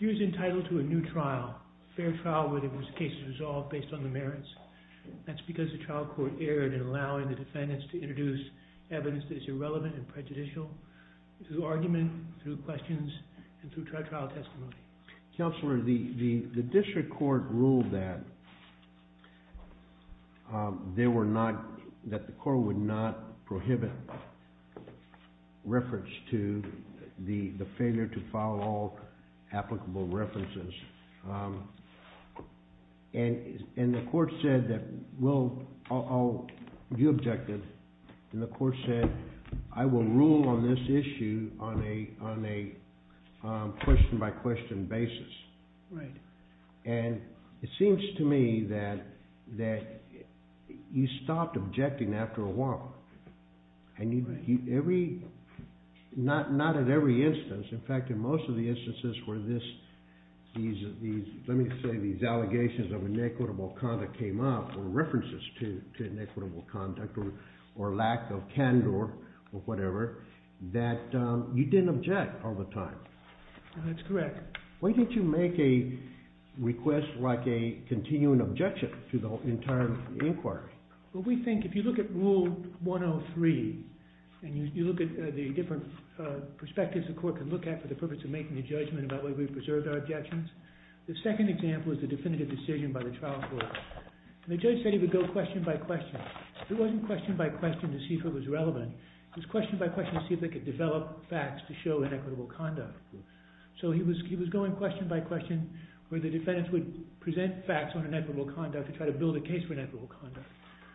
Deere is entitled to a new trial, a fair trial where the case is resolved based on the merits. That's because the trial court erred in allowing the defendants to introduce evidence that is irrelevant and prejudicial through argument, through questions, and through trial testimony. Counselor, the district court ruled that the court would not prohibit reference to the failure to follow all applicable references. The court said, I will rule on this issue on a question-by-question basis. And it seems to me that you stopped objecting after a while. Not at every instance. In fact, in most of the instances where these allegations of inequitable conduct came up, or references to inequitable conduct, or lack of candor, or whatever, that you didn't object all the time. That's correct. Why didn't you make a request like a continuing objection to the entire inquiry? Well, we think if you look at Rule 103, and you look at the different perspectives the court could look at for the purpose of making a judgment about whether we preserved our objections, the second example is the definitive decision by the trial court. The judge said he would go question-by-question. It wasn't question-by-question to see if it was relevant. It was question-by-question to see if they could develop facts to show inequitable conduct. So he was going question-by-question where the defendants would present facts on inequitable conduct to try to build a case for inequitable conduct.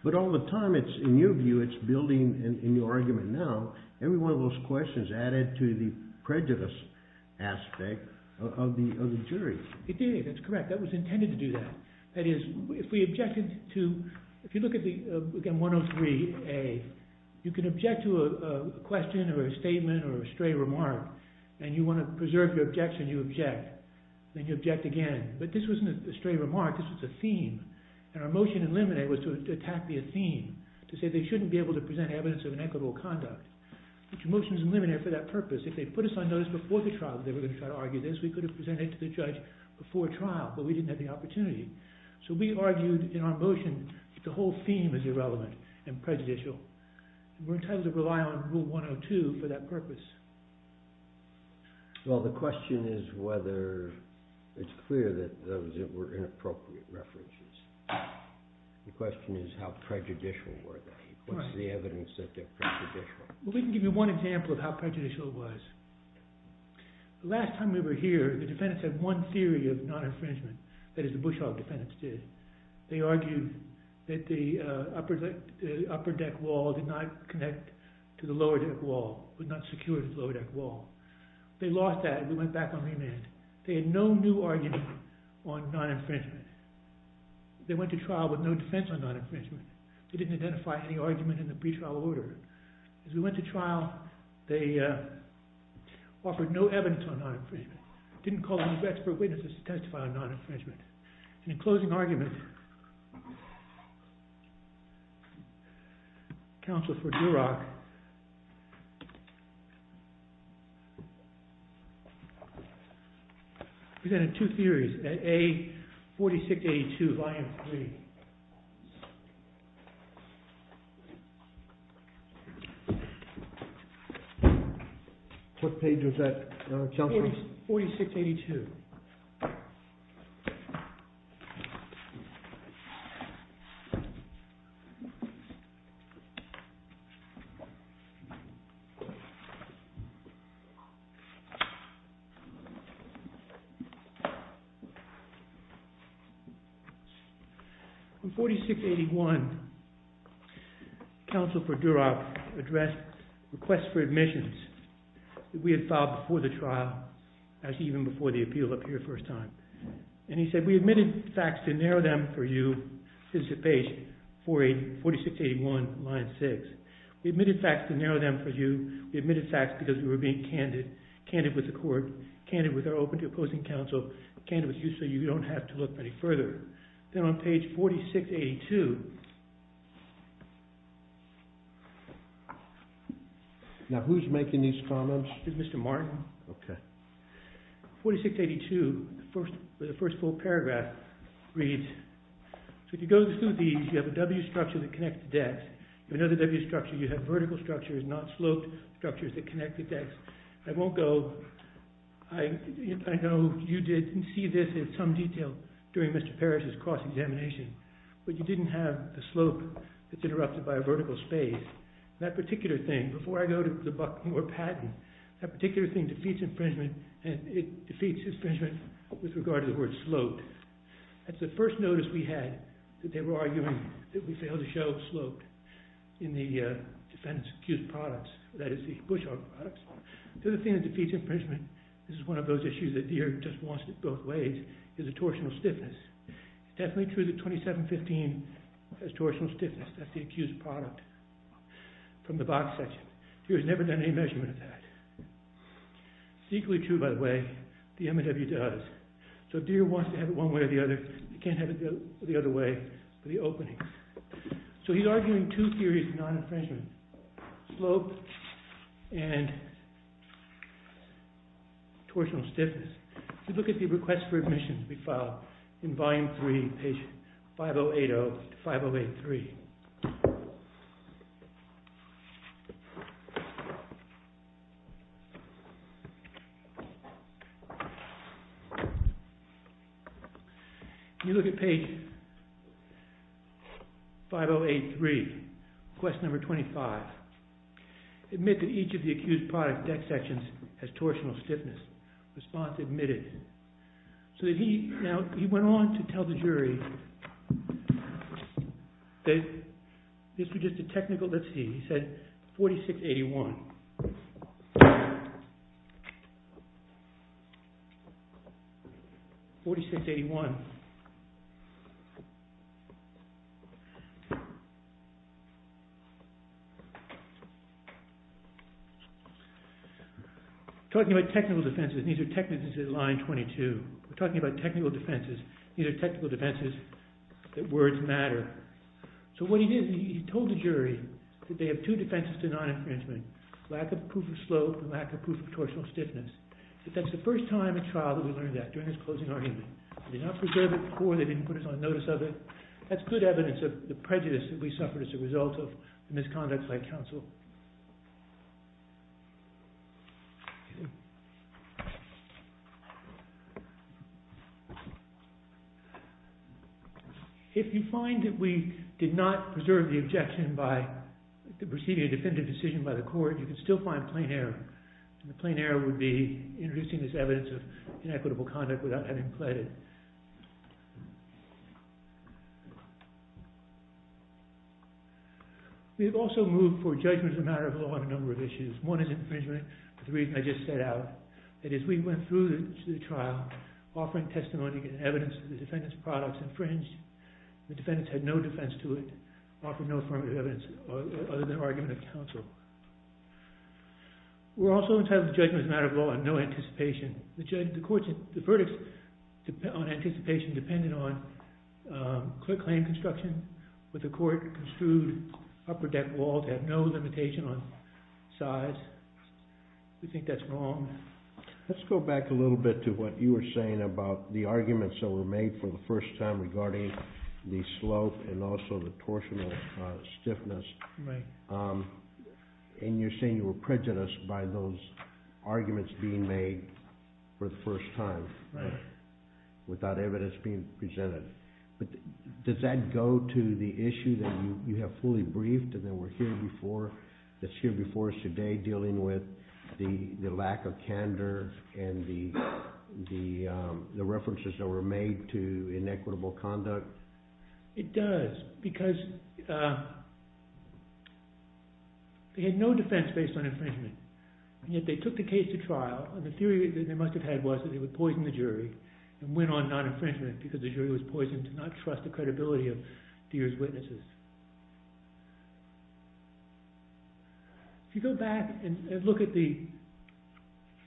But all the time, in your view, it's building in your argument now, every one of those questions added to the prejudice aspect of the jury. It did. That's correct. That was intended to do that. That is, if we objected to – if you look at 103A, you can object to a question or a statement or a stray remark, and you want to preserve your objection, you object. Then you object again. But this wasn't a stray remark. This was a theme. And our motion in limine was to attack the theme, to say they shouldn't be able to present evidence of inequitable conduct. But your motion is in limine for that purpose. If they put us on notice before the trial that they were going to try to argue this, we could have presented it to the judge before trial, but we didn't have the opportunity. So we argued in our motion that the whole theme is irrelevant and prejudicial. We're entitled to rely on Rule 102 for that purpose. Well, the question is whether it's clear that those were inappropriate references. The question is how prejudicial were they? What's the evidence that they're prejudicial? Well, we can give you one example of how prejudicial it was. The last time we were here, the defendants had one theory of non-infringement, that is, the Bushhaug defendants did. They argued that the upper deck wall did not connect to the lower deck wall, was not secure to the lower deck wall. They lost that, and we went back on remand. They had no new argument on non-infringement. They went to trial with no defense on non-infringement. They didn't identify any argument in the pretrial order. As we went to trial, they offered no evidence on non-infringement, didn't call any expert witnesses to testify on non-infringement. In closing argument, counsel for Duroc presented two theories at A4682, Volume 3. What page was that, counsel? 4682. In 4681, counsel for Duroc addressed requests for admissions. We had filed before the trial, even before the appeal up here the first time. And he said, we admitted facts to narrow them for you. This is page 4681, line 6. We admitted facts to narrow them for you. We admitted facts because we were being candid, candid with the court, candid with our open to opposing counsel, candid with you so you don't have to look any further. Then on page 4682. Now who's making these comments? Mr. Martin. Okay. 4682, the first full paragraph reads, so if you go through these, you have a W structure that connects the decks. You have another W structure, you have vertical structures, not sloped structures that connect the decks. I won't go, I know you did see this in some detail during Mr. Parrish's cross-examination, but you didn't have the slope that's interrupted by a vertical space. That particular thing, before I go to the Buckmore patent, that particular thing defeats infringement and it defeats infringement with regard to the word sloped. That's the first notice we had that they were arguing that we failed to show sloped in the defendant's accused products, that is the Busch Art products. The other thing that defeats infringement, this is one of those issues that Deere just wants it both ways, is the torsional stiffness. It's definitely true that 2715 has torsional stiffness. That's the accused product from the box section. Deere has never done any measurement of that. It's equally true, by the way, the M&W does. So Deere wants to have it one way or the other. They can't have it the other way for the opening. So he's arguing two theories of non-infringement, slope and torsional stiffness. If you look at the request for admission to be filed in Volume 3, page 5080 to 5083. You look at page 5083, request number 25. Admit that each of the accused product deck sections has torsional stiffness. Response admitted. So he went on to tell the jury that this was just a technical, let's see, he said 4681. Go on. 4681. Talking about technical defenses. These are technical defenses in line 22. We're talking about technical defenses. These are technical defenses that words matter. So what he did, he told the jury that they have two defenses to non-infringement. Lack of proof of slope and lack of proof of torsional stiffness. But that's the first time in trial that we learned that during this closing argument. They did not preserve it before. They didn't put us on notice of it. That's good evidence of the prejudice that we suffered as a result of the misconduct by counsel. If you find that we did not preserve the objection by receiving a definitive decision by the court, you can still find plain error. And the plain error would be introducing this evidence of inequitable conduct without having pled it. Judgment is a matter of law on a number of issues. One is infringement, the reason I just set out. That is, we went through the trial offering testimony and evidence that the defendant's products infringed. The defendants had no defense to it, offered no affirmative evidence other than argument of counsel. We're also entitled to judgment as a matter of law and no anticipation. The verdict on anticipation depended on clear claim construction, but the court construed upper deck walls had no limitation on size. We think that's wrong. Let's go back a little bit to what you were saying about the arguments that were made for the first time regarding the slope and also the torsional stiffness. Right. And you're saying you were prejudiced by those arguments being made for the first time. Right. Without evidence being presented. But does that go to the issue that you have fully briefed and that's here before us today, dealing with the lack of candor and the references that were made to inequitable conduct? It does because they had no defense based on infringement, and yet they took the case to trial and the theory that they must have had was that they would poison the jury and went on non-infringement because the jury was poisoned to not trust the credibility of Deere's witnesses. If you go back and look at the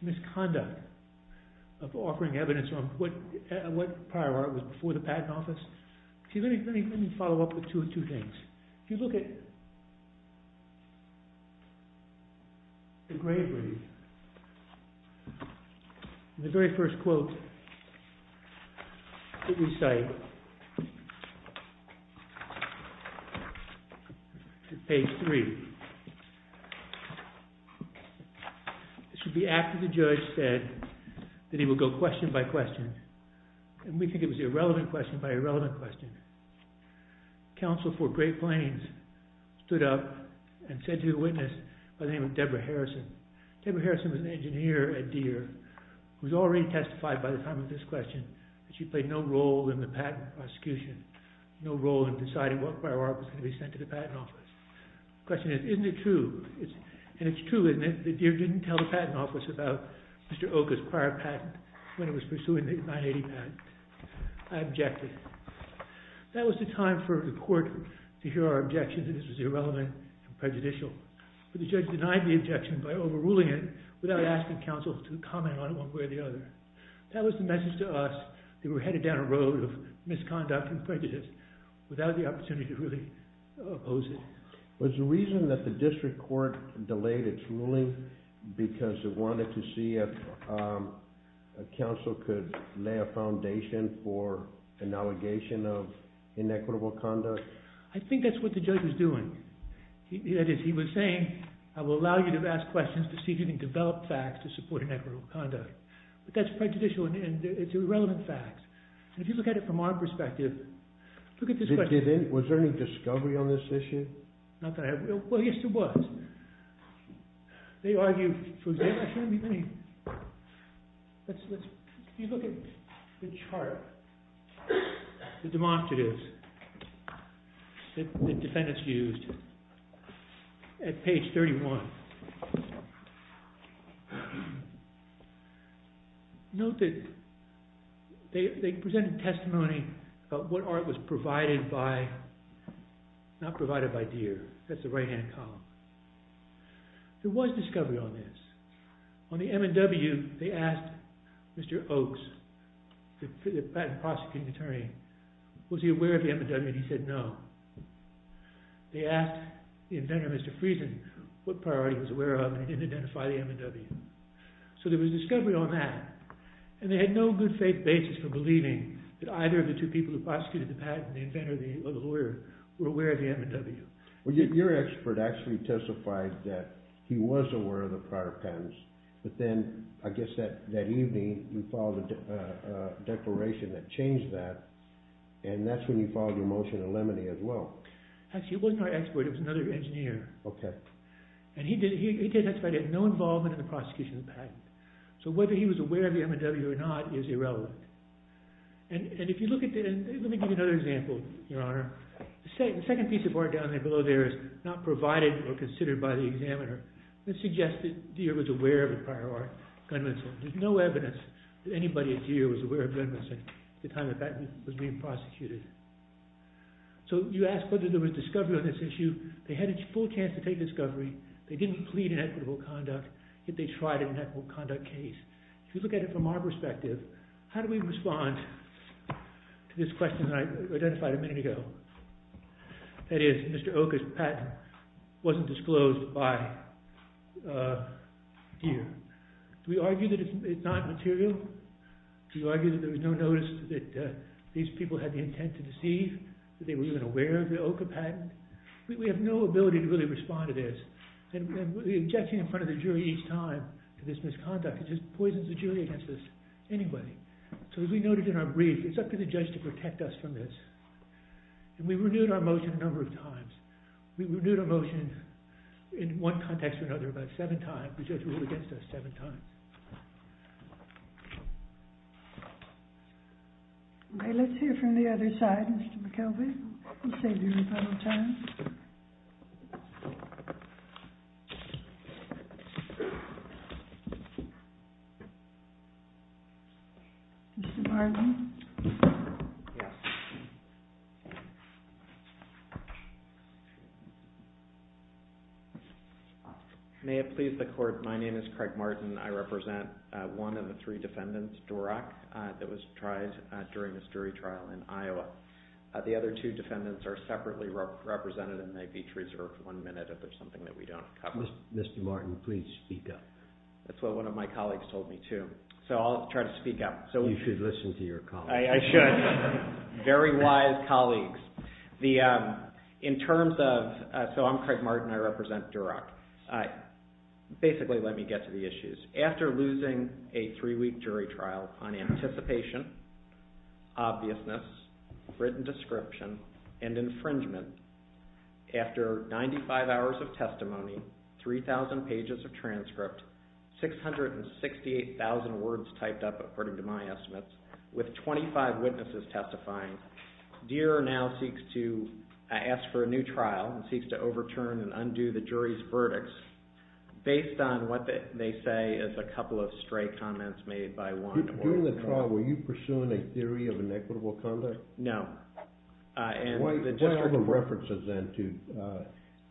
misconduct of offering evidence on what prior art was before the patent office, let me follow up with two things. If you look at the Grave Reef, the very first quote that we cite is page 3. This would be after the judge said that he would go question by question, and we think it was irrelevant question by irrelevant question. Counsel for Great Plains stood up and said to the witness by the name of Debra Harrison. Debra Harrison was an engineer at Deere who had already testified by the time of this question that she played no role in the patent prosecution, no role in deciding what prior art was going to be sent to the patent office. The question is, isn't it true? And it's true, isn't it, that Deere didn't tell the patent office about Mr. Oka's prior patent when it was pursuing the 980 patent? I objected. That was the time for the court to hear our objections that this was irrelevant and prejudicial. But the judge denied the objection by overruling it without asking counsel to comment on it one way or the other. That was the message to us. They were headed down a road of misconduct and prejudice without the opportunity to really oppose it. Was the reason that the district court delayed its ruling because it wanted to see if counsel could lay a foundation for an allegation of inequitable conduct? I think that's what the judge was doing. That is, he was saying, I will allow you to ask questions to see if you can develop facts to support inequitable conduct. But that's prejudicial and it's irrelevant facts. And if you look at it from our perspective, look at this question. Was there any discovery on this issue? Not that I have. Well, yes, there was. They argued, for example, let's look at the chart, the demonstratives that defendants used at page 31. Note that they presented testimony about what art was provided by, not provided by deer. That's the right-hand column. There was discovery on this. On the M&W, they asked Mr. Oaks, the patent prosecuting attorney, was he aware of the M&W and he said no. They asked the inventor, Mr. Friesen, what priority he was aware of and he didn't identify the M&W. So there was discovery on that. And they had no good faith basis for believing that either of the two people who prosecuted the patent, the inventor or the lawyer, were aware of the M&W. Well, your expert actually testified that he was aware of the prior patents. But then, I guess that evening, you filed a declaration that changed that and that's when you filed your motion in limine as well. Actually, it wasn't our expert, it was another engineer. Okay. And he testified he had no involvement in the prosecution of the patent. So whether he was aware of the M&W or not is irrelevant. And if you look at the, let me give you another example, Your Honor. The second piece of work down there, below there, is not provided or considered by the examiner. It suggests that Deere was aware of the prior gun-missing. There's no evidence that anybody at Deere was aware of gun-missing at the time the patent was being prosecuted. So you ask whether there was discovery on this issue. They had a full chance to take discovery. They didn't plead an equitable conduct, yet they tried an equitable conduct case. If you look at it from our perspective, how do we respond to this question that I identified a minute ago? That is, Mr. Oka's patent wasn't disclosed by Deere. Do we argue that it's not material? Do we argue that there was no notice that these people had the intent to deceive? That they were even aware of the Oka patent? We have no ability to really respond to this. And the objection in front of the jury each time to this misconduct just poisons the jury against us anyway. So as we noted in our brief, it's up to the judge to protect us from this. And we renewed our motion a number of times. We renewed our motion in one context or another about seven times. The judge ruled against us seven times. All right, let's hear from the other side, Mr. McKelvey. We'll save you a couple of times. Mr. Martin. Yes. May it please the court, my name is Craig Martin. I represent one of the three defendants, Dorak, that was tried during this jury trial in Iowa. The other two defendants are separately represented, and they each reserve one minute if there's something that we don't cover. Mr. Martin, please speak up. That's what one of my colleagues told me, too. So I'll try to speak up. You should listen to your colleague. I should. Very wise colleagues. In terms of, so I'm Craig Martin, I represent Dorak. Basically, let me get to the issues. After losing a three-week jury trial on anticipation, obviousness, written description, and infringement, after 95 hours of testimony, 3,000 pages of transcript, 668,000 words typed up according to my estimates, with 25 witnesses testifying, Deere now seeks to ask for a new trial and seeks to overturn and undo the jury's verdicts based on what they say is a couple of stray comments made by one or another. During the trial, were you pursuing a theory of inequitable conduct? No. What are the references then to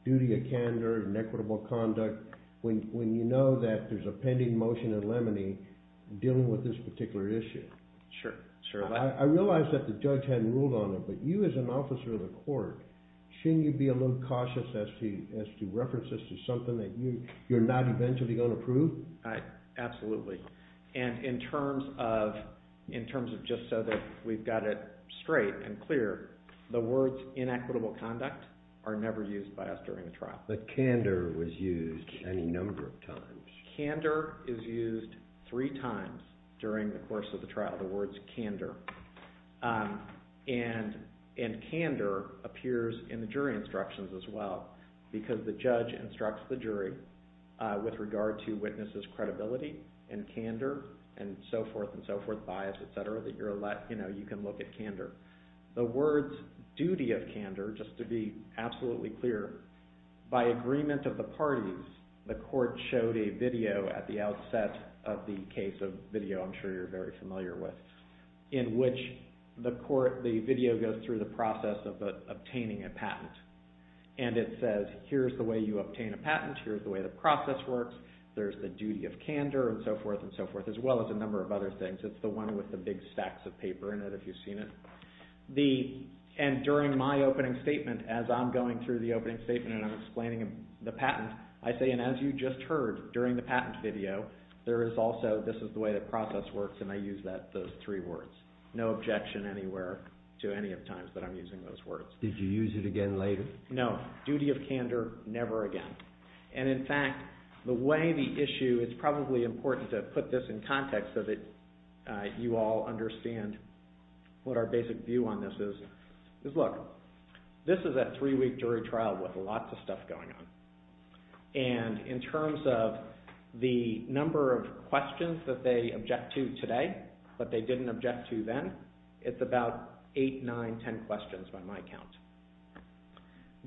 duty of candor and inequitable conduct when you know that there's a pending motion in Lemony dealing with this particular issue? Sure. I realize that the judge hadn't ruled on it, but you as an officer of the court, shouldn't you be a little cautious as to reference this to something that you're not eventually going to prove? Absolutely. And in terms of just so that we've got it straight and clear, the words inequitable conduct are never used by us during the trial. But candor was used any number of times. Candor is used three times during the course of the trial, the words candor. And candor appears in the jury instructions as well, because the judge instructs the jury with regard to witnesses' credibility and candor and so forth and so forth, bias, et cetera, that you can look at candor. The words duty of candor, just to be absolutely clear, by agreement of the parties, the court showed a video at the outset of the case of video I'm sure you're very familiar with, in which the video goes through the process of obtaining a patent. And it says, here's the way you obtain a patent, here's the way the process works, there's the duty of candor and so forth and so forth, as well as a number of other things. It's the one with the big stacks of paper in it, if you've seen it. And during my opening statement, as I'm going through the opening statement and I'm explaining the patent, I say, and as you just heard during the patent video, there is also, this is the way the process works, and I use those three words. No objection anywhere to any of the times that I'm using those words. Did you use it again later? No. Duty of candor, never again. And in fact, the way the issue, it's probably important to put this in context so that you all understand what our basic view on this is, is look, this is a three-week jury trial with lots of stuff going on. And in terms of the number of questions that they object to today, but they didn't object to then, it's about eight, nine, ten questions by my count.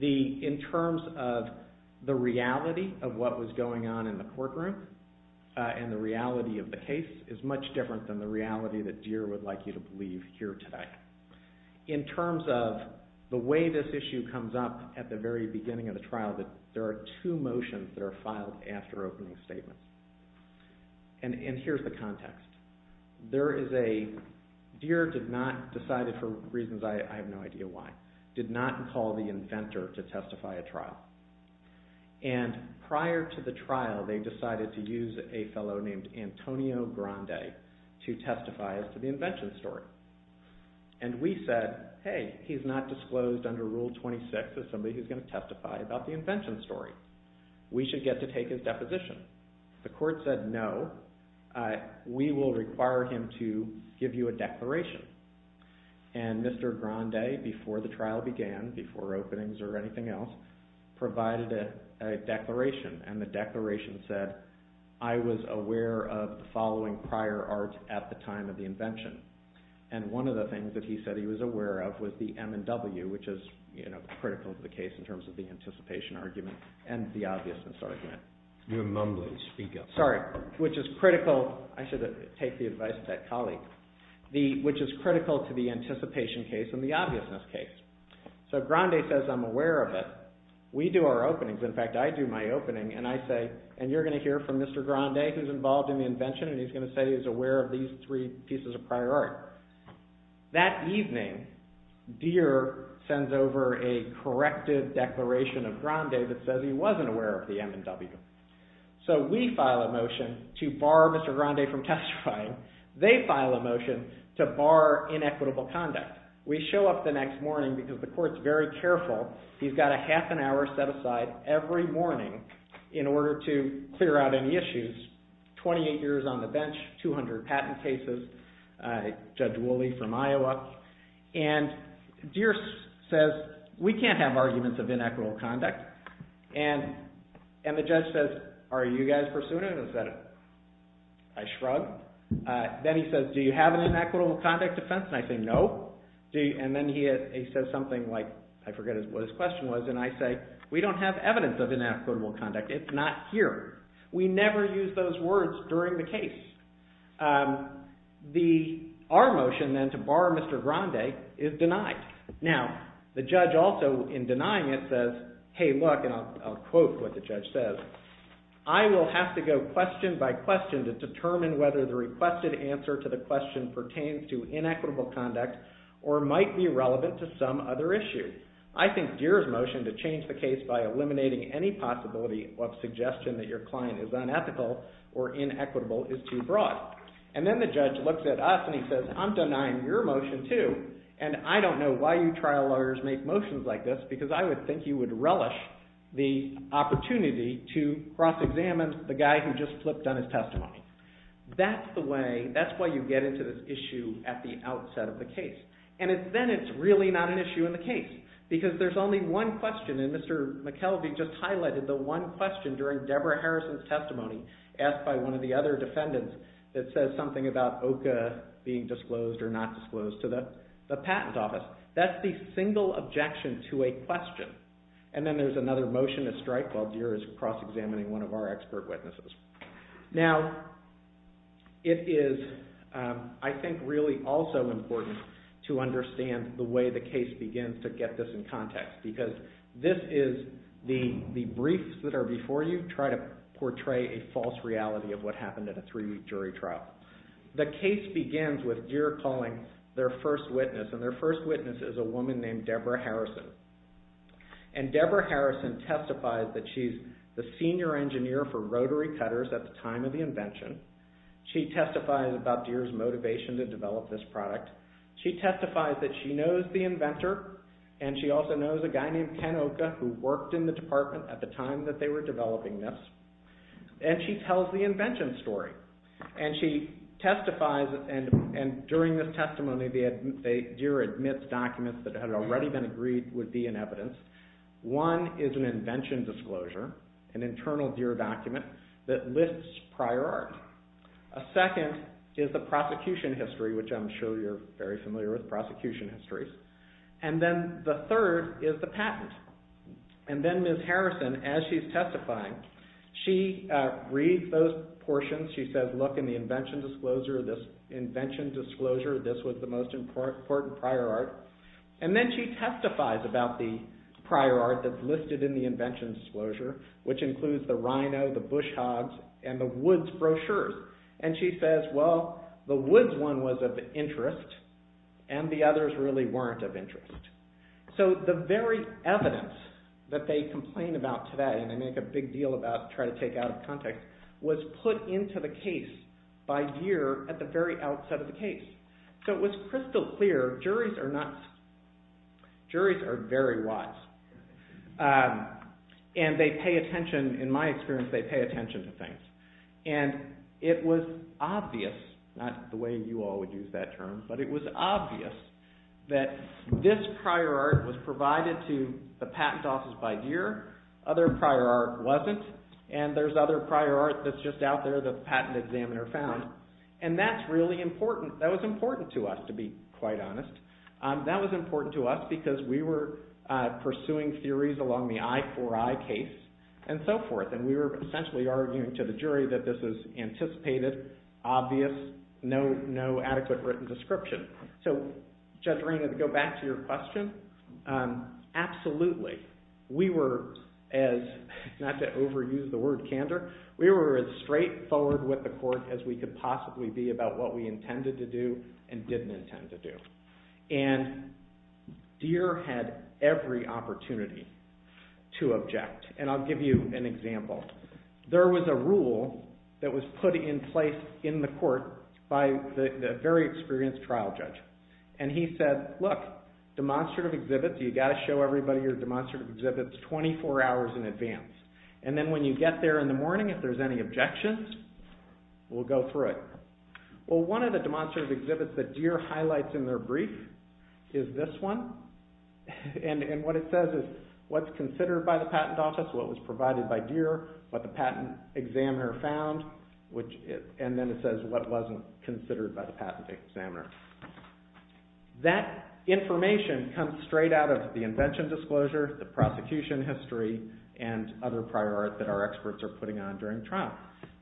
In terms of the reality of what was going on in the courtroom and the reality of the case, it's much different than the reality that Deere would like you to believe here today. In terms of the way this issue comes up at the very beginning of the trial, there are two motions that are filed after opening statements. And here's the context. There is a, Deere did not decide, for reasons I have no idea why, did not call the inventor to testify at trial. And prior to the trial, they decided to use a fellow named Antonio Grande to testify as to the invention story. And we said, hey, he's not disclosed under Rule 26 as somebody who's going to testify about the invention story. We should get to take his deposition. The court said, no, we will require him to give you a declaration. And Mr. Grande, before the trial began, before openings or anything else, provided a declaration, and the declaration said, I was aware of the following prior art at the time of the invention. And one of the things that he said he was aware of was the M&W, which is critical to the case in terms of the anticipation argument and the obviousness argument. You're mumbling, speak up. Sorry, which is critical, I should take the advice of that colleague, which is critical to the anticipation case and the obviousness case. So Grande says, I'm aware of it. We do our openings. In fact, I do my opening, and I say, and you're going to hear from Mr. Grande, who's involved in the invention, and he's going to say he's aware of these three pieces of prior art. That evening, Deere sends over a corrective declaration of Grande that says he wasn't aware of the M&W. So we file a motion to bar Mr. Grande from testifying. They file a motion to bar inequitable conduct. We show up the next morning because the court's very careful. He's got a half an hour set aside every morning in order to clear out any issues. He's 28 years on the bench, 200 patent cases, Judge Wooley from Iowa. And Deere says, we can't have arguments of inequitable conduct. And the judge says, are you guys pursuing it? And I said, I shrug. Then he says, do you have an inequitable conduct defense? And I say, no. And then he says something like, I forget what his question was, and I say, we don't have evidence of inequitable conduct. It's not here. We never use those words during the case. Our motion then to bar Mr. Grande is denied. Now, the judge also, in denying it, says, hey, look, and I'll quote what the judge says, I will have to go question by question to determine whether the requested answer to the question pertains to inequitable conduct or might be relevant to some other issue. I think Deere's motion to change the case by eliminating any possibility of suggestion that your client is unethical or inequitable is too broad. And then the judge looks at us and he says, I'm denying your motion too. And I don't know why you trial lawyers make motions like this, because I would think you would relish the opportunity to cross-examine the guy who just flipped on his testimony. That's the way, that's why you get into this issue at the outset of the case. And then it's really not an issue in the case, because there's only one question, and Mr. McKelvey just highlighted the one question during Deborah Harrison's testimony, asked by one of the other defendants that says something about OCA being disclosed or not disclosed to the patent office. That's the single objection to a question. And then there's another motion to strike while Deere is cross-examining one of our expert witnesses. Now, it is, I think, really also important to understand the way the case begins to get this in context, because this is the briefs that are before you try to portray a false reality of what happened at a three-week jury trial. The case begins with Deere calling their first witness, and their first witness is a woman named Deborah Harrison. And Deborah Harrison testifies that she's the senior engineer for rotary cutters at the time of the invention. She testifies about Deere's motivation to develop this product. She testifies that she knows the inventor, and she also knows a guy named Ken Oka, who worked in the department at the time that they were developing this, and she tells the invention story. And she testifies, and during this testimony, Deere admits documents that had already been agreed would be in evidence. One is an invention disclosure, an internal Deere document that lists prior art. A second is the prosecution history, which I'm sure you're very familiar with, prosecution histories. And then Ms. Harrison, as she's testifying, she reads those portions. She says, look, in the invention disclosure, this was the most important prior art. And then she testifies about the prior art that's listed in the invention disclosure, which includes the rhino, the bush hogs, and the woods brochures. And she says, well, the woods one was of interest, and the others really weren't of interest. So the very evidence that they complain about today, and they make a big deal about trying to take out of context, was put into the case by Deere at the very outset of the case. So it was crystal clear, juries are nuts. Juries are very wise. And they pay attention, in my experience, they pay attention to things. And it was obvious, not the way you all would use that term, but it was obvious, that this prior art was provided to the patent offices by Deere. Other prior art wasn't. And there's other prior art that's just out there that the patent examiner found. And that's really important. That was important to us, to be quite honest. That was important to us because we were pursuing theories along the I4I case and so forth. And we were essentially arguing to the jury that this is anticipated, obvious, no adequate written description. So Judge Reynolds, to go back to your question, absolutely. We were, not to overuse the word candor, we were as straightforward with the court as we could possibly be about what we intended to do and didn't intend to do. And Deere had every opportunity to object. And I'll give you an example. There was a rule that was put in place in the court by the very experienced trial judge. And he said, look, demonstrative exhibits, you've got to show everybody your demonstrative exhibits 24 hours in advance. And then when you get there in the morning, if there's any objections, we'll go through it. Well, one of the demonstrative exhibits that Deere highlights in their brief is this one. And what it says is what's considered by the patent office, what was provided by Deere, what the patent examiner found, and then it says what wasn't considered by the patent examiner. That information comes straight out of the invention disclosure, the prosecution history, and other prior art that our experts are putting on during trial.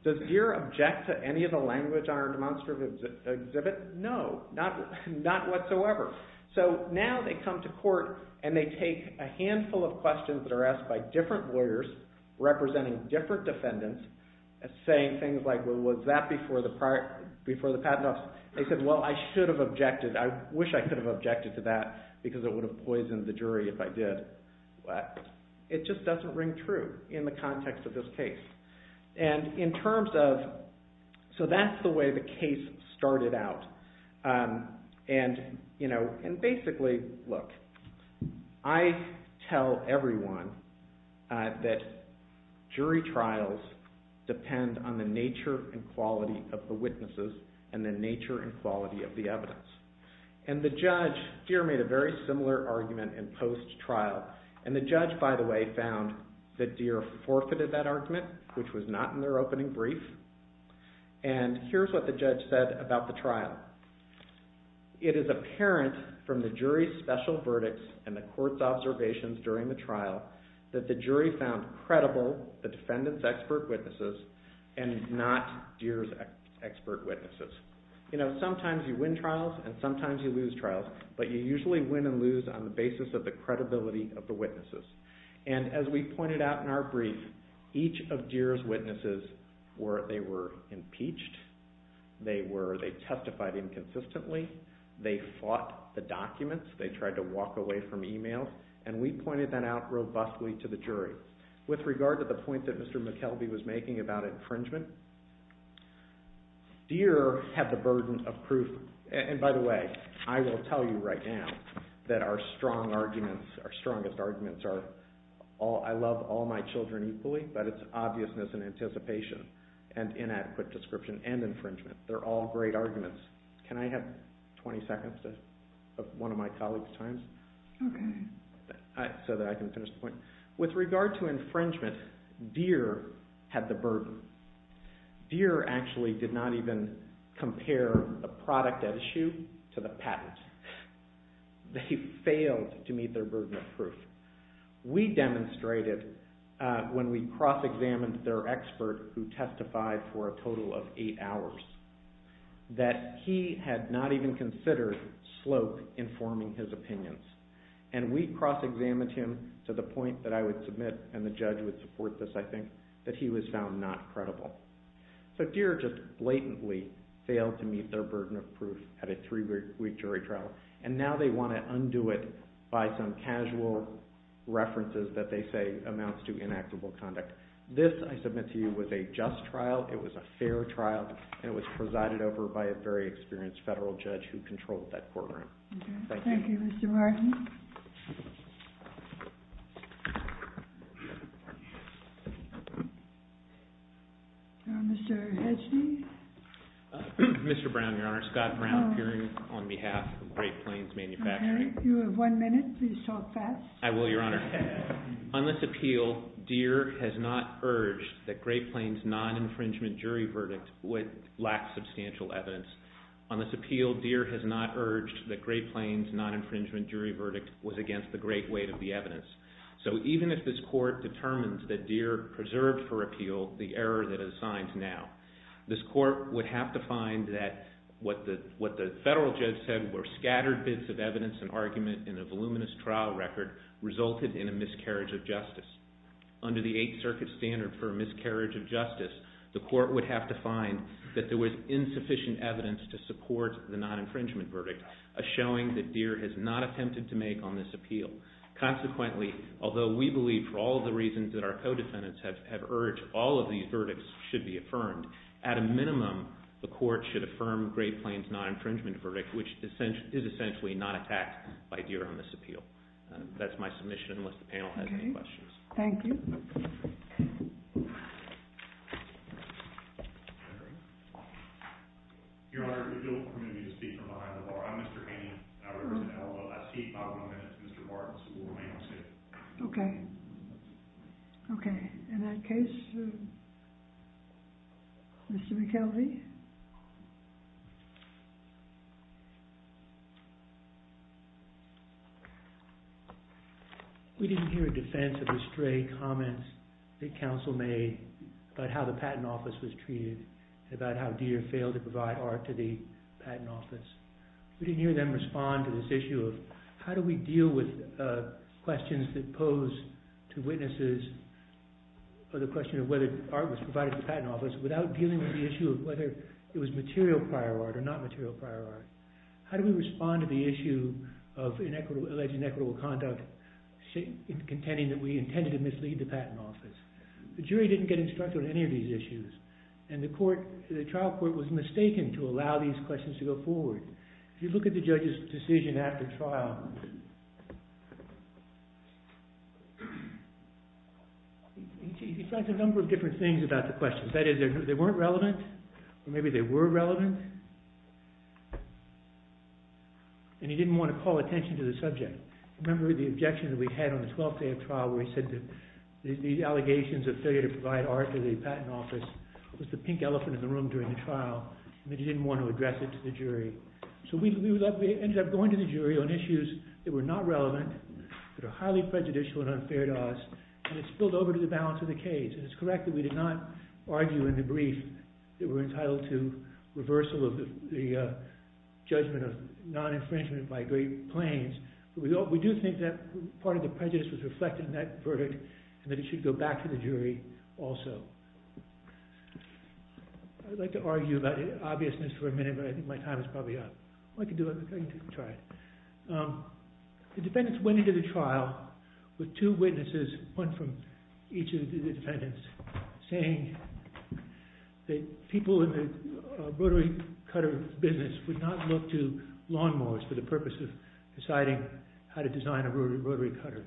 Does Deere object to any of the language on our demonstrative exhibit? No, not whatsoever. So now they come to court and they take a handful of questions that are asked by different lawyers representing different defendants saying things like, well, was that before the patent office? They said, well, I should have objected. I wish I could have objected to that because it would have poisoned the jury if I did. But it just doesn't ring true in the context of this case. And in terms of, so that's the way the case started out. And basically, look, I tell everyone that jury trials depend on the nature and quality of the witnesses and the nature and quality of the evidence. And the judge, Deere made a very similar argument in post-trial. And the judge, by the way, found that Deere forfeited that argument, which was not in their opening brief. And here's what the judge said about the trial. It is apparent from the jury's special verdicts and the court's observations during the trial that the jury found credible the defendant's expert witnesses and not Deere's expert witnesses. You know, sometimes you win trials and sometimes you lose trials, but you usually win and lose on the basis of the credibility of the witnesses. And as we pointed out in our brief, each of Deere's witnesses, they were impeached. They testified inconsistently. They fought the documents. They tried to walk away from emails. And we pointed that out robustly to the jury. With regard to the point that Mr. McKelvey was making about infringement, Deere had the burden of proof. And by the way, I will tell you right now that our strong arguments, our strongest arguments are, I love all my children equally, but it's obviousness and anticipation and inadequate description and infringement. They're all great arguments. Can I have 20 seconds of one of my colleagues' time so that I can finish the point? With regard to infringement, Deere had the burden. Deere actually did not even compare the product at issue to the patent. They failed to meet their burden of proof. We demonstrated when we cross-examined their expert who testified for a total of eight hours, that he had not even considered slope in forming his opinions. And we cross-examined him to the point that I would submit, and the judge would support this, I think, that he was found not credible. So Deere just blatantly failed to meet their burden of proof at a three-week jury trial. And now they want to undo it by some casual references that they say amounts to inactable conduct. This, I submit to you, was a just trial. It was a fair trial, and it was presided over by a very experienced federal judge who controlled that courtroom. Thank you. Thank you, Mr. Martin. Mr. Hesney? Mr. Brown, Your Honor. Scott Brown, appearing on behalf of Great Plains Manufacturing. You have one minute. Please talk fast. I will, Your Honor. On this appeal, Deere has not urged that Great Plains' non-infringement jury verdict would lack substantial evidence. On this appeal, Deere has not urged that Great Plains' non-infringement jury verdict was against the great weight of the evidence. So even if this court determines that Deere preserved for appeal the error that it assigns now, this court would have to find that what the federal judge said were scattered bits of evidence and argument in a voluminous trial record resulted in a miscarriage of justice. Under the Eighth Circuit standard for a miscarriage of justice, the court would have to find that there was insufficient evidence to support the non-infringement verdict, a showing that Deere has not attempted to make on this appeal. Consequently, although we believe for all the reasons that our co-defendants have urged, all of these verdicts should be affirmed. At a minimum, the court should affirm Great Plains' non-infringement verdict, so that's my submission, unless the panel has any questions. Thank you. Your Honor, if you'll permit me to speak from behind the bar. I'm Mr. Haney, and I represent LLSE. If I have one minute, Mr. Barnes will remain on stand. Okay. Okay. In that case, Mr. McKelvey. We didn't hear a defense of the stray comments that counsel made about how the Patent Office was treated, about how Deere failed to provide art to the Patent Office. We didn't hear them respond to this issue of how do we deal with questions that pose to witnesses the question of whether art was provided to the Patent Office without dealing with the issue of whether it was material prior art or not material prior art. How do we respond to the issue of alleged inequitable conduct contending that we intended to mislead the Patent Office? The jury didn't get instructed on any of these issues, and the trial court was mistaken to allow these questions to go forward. If you look at the judge's decision after trial, he tried a number of different things about the questions. That is, they weren't relevant, or maybe they were relevant. And he didn't want to call attention to the subject. Remember the objection that we had on the 12th day of trial where he said that the allegations of failure to provide art to the Patent Office was the pink elephant in the room during the trial, and that he didn't want to address it to the jury. So we ended up going to the jury on issues that were not relevant, that are highly prejudicial and unfair to us, and it spilled over to the balance of the case. And it's correct that we did not argue in the brief that we're entitled to reversal of the judgment of non-infringement by Great Plains. But we do think that part of the prejudice was reflected in that verdict, and that it should go back to the jury also. I'd like to argue about the obviousness for a minute, but I think my time is probably up. I can do it. I can try it. The defendants went into the trial with two witnesses, one from each of the defendants, saying that people in the rotary cutter business would not look to lawnmowers for the purpose of deciding how to design a rotary cutter.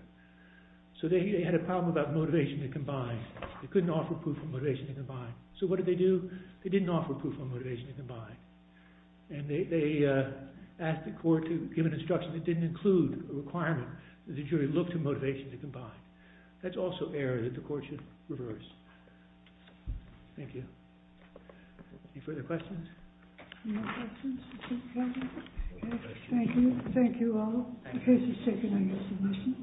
So they had a problem about motivation to combine. They couldn't offer proof of motivation to combine. So what did they do? They didn't offer proof of motivation to combine. And they asked the court to give an instruction that didn't include a requirement that the jury look to motivation to combine. That's also error that the court should reverse. Thank you. Any further questions? No questions. Thank you. Thank you all. The case is taken on your submission.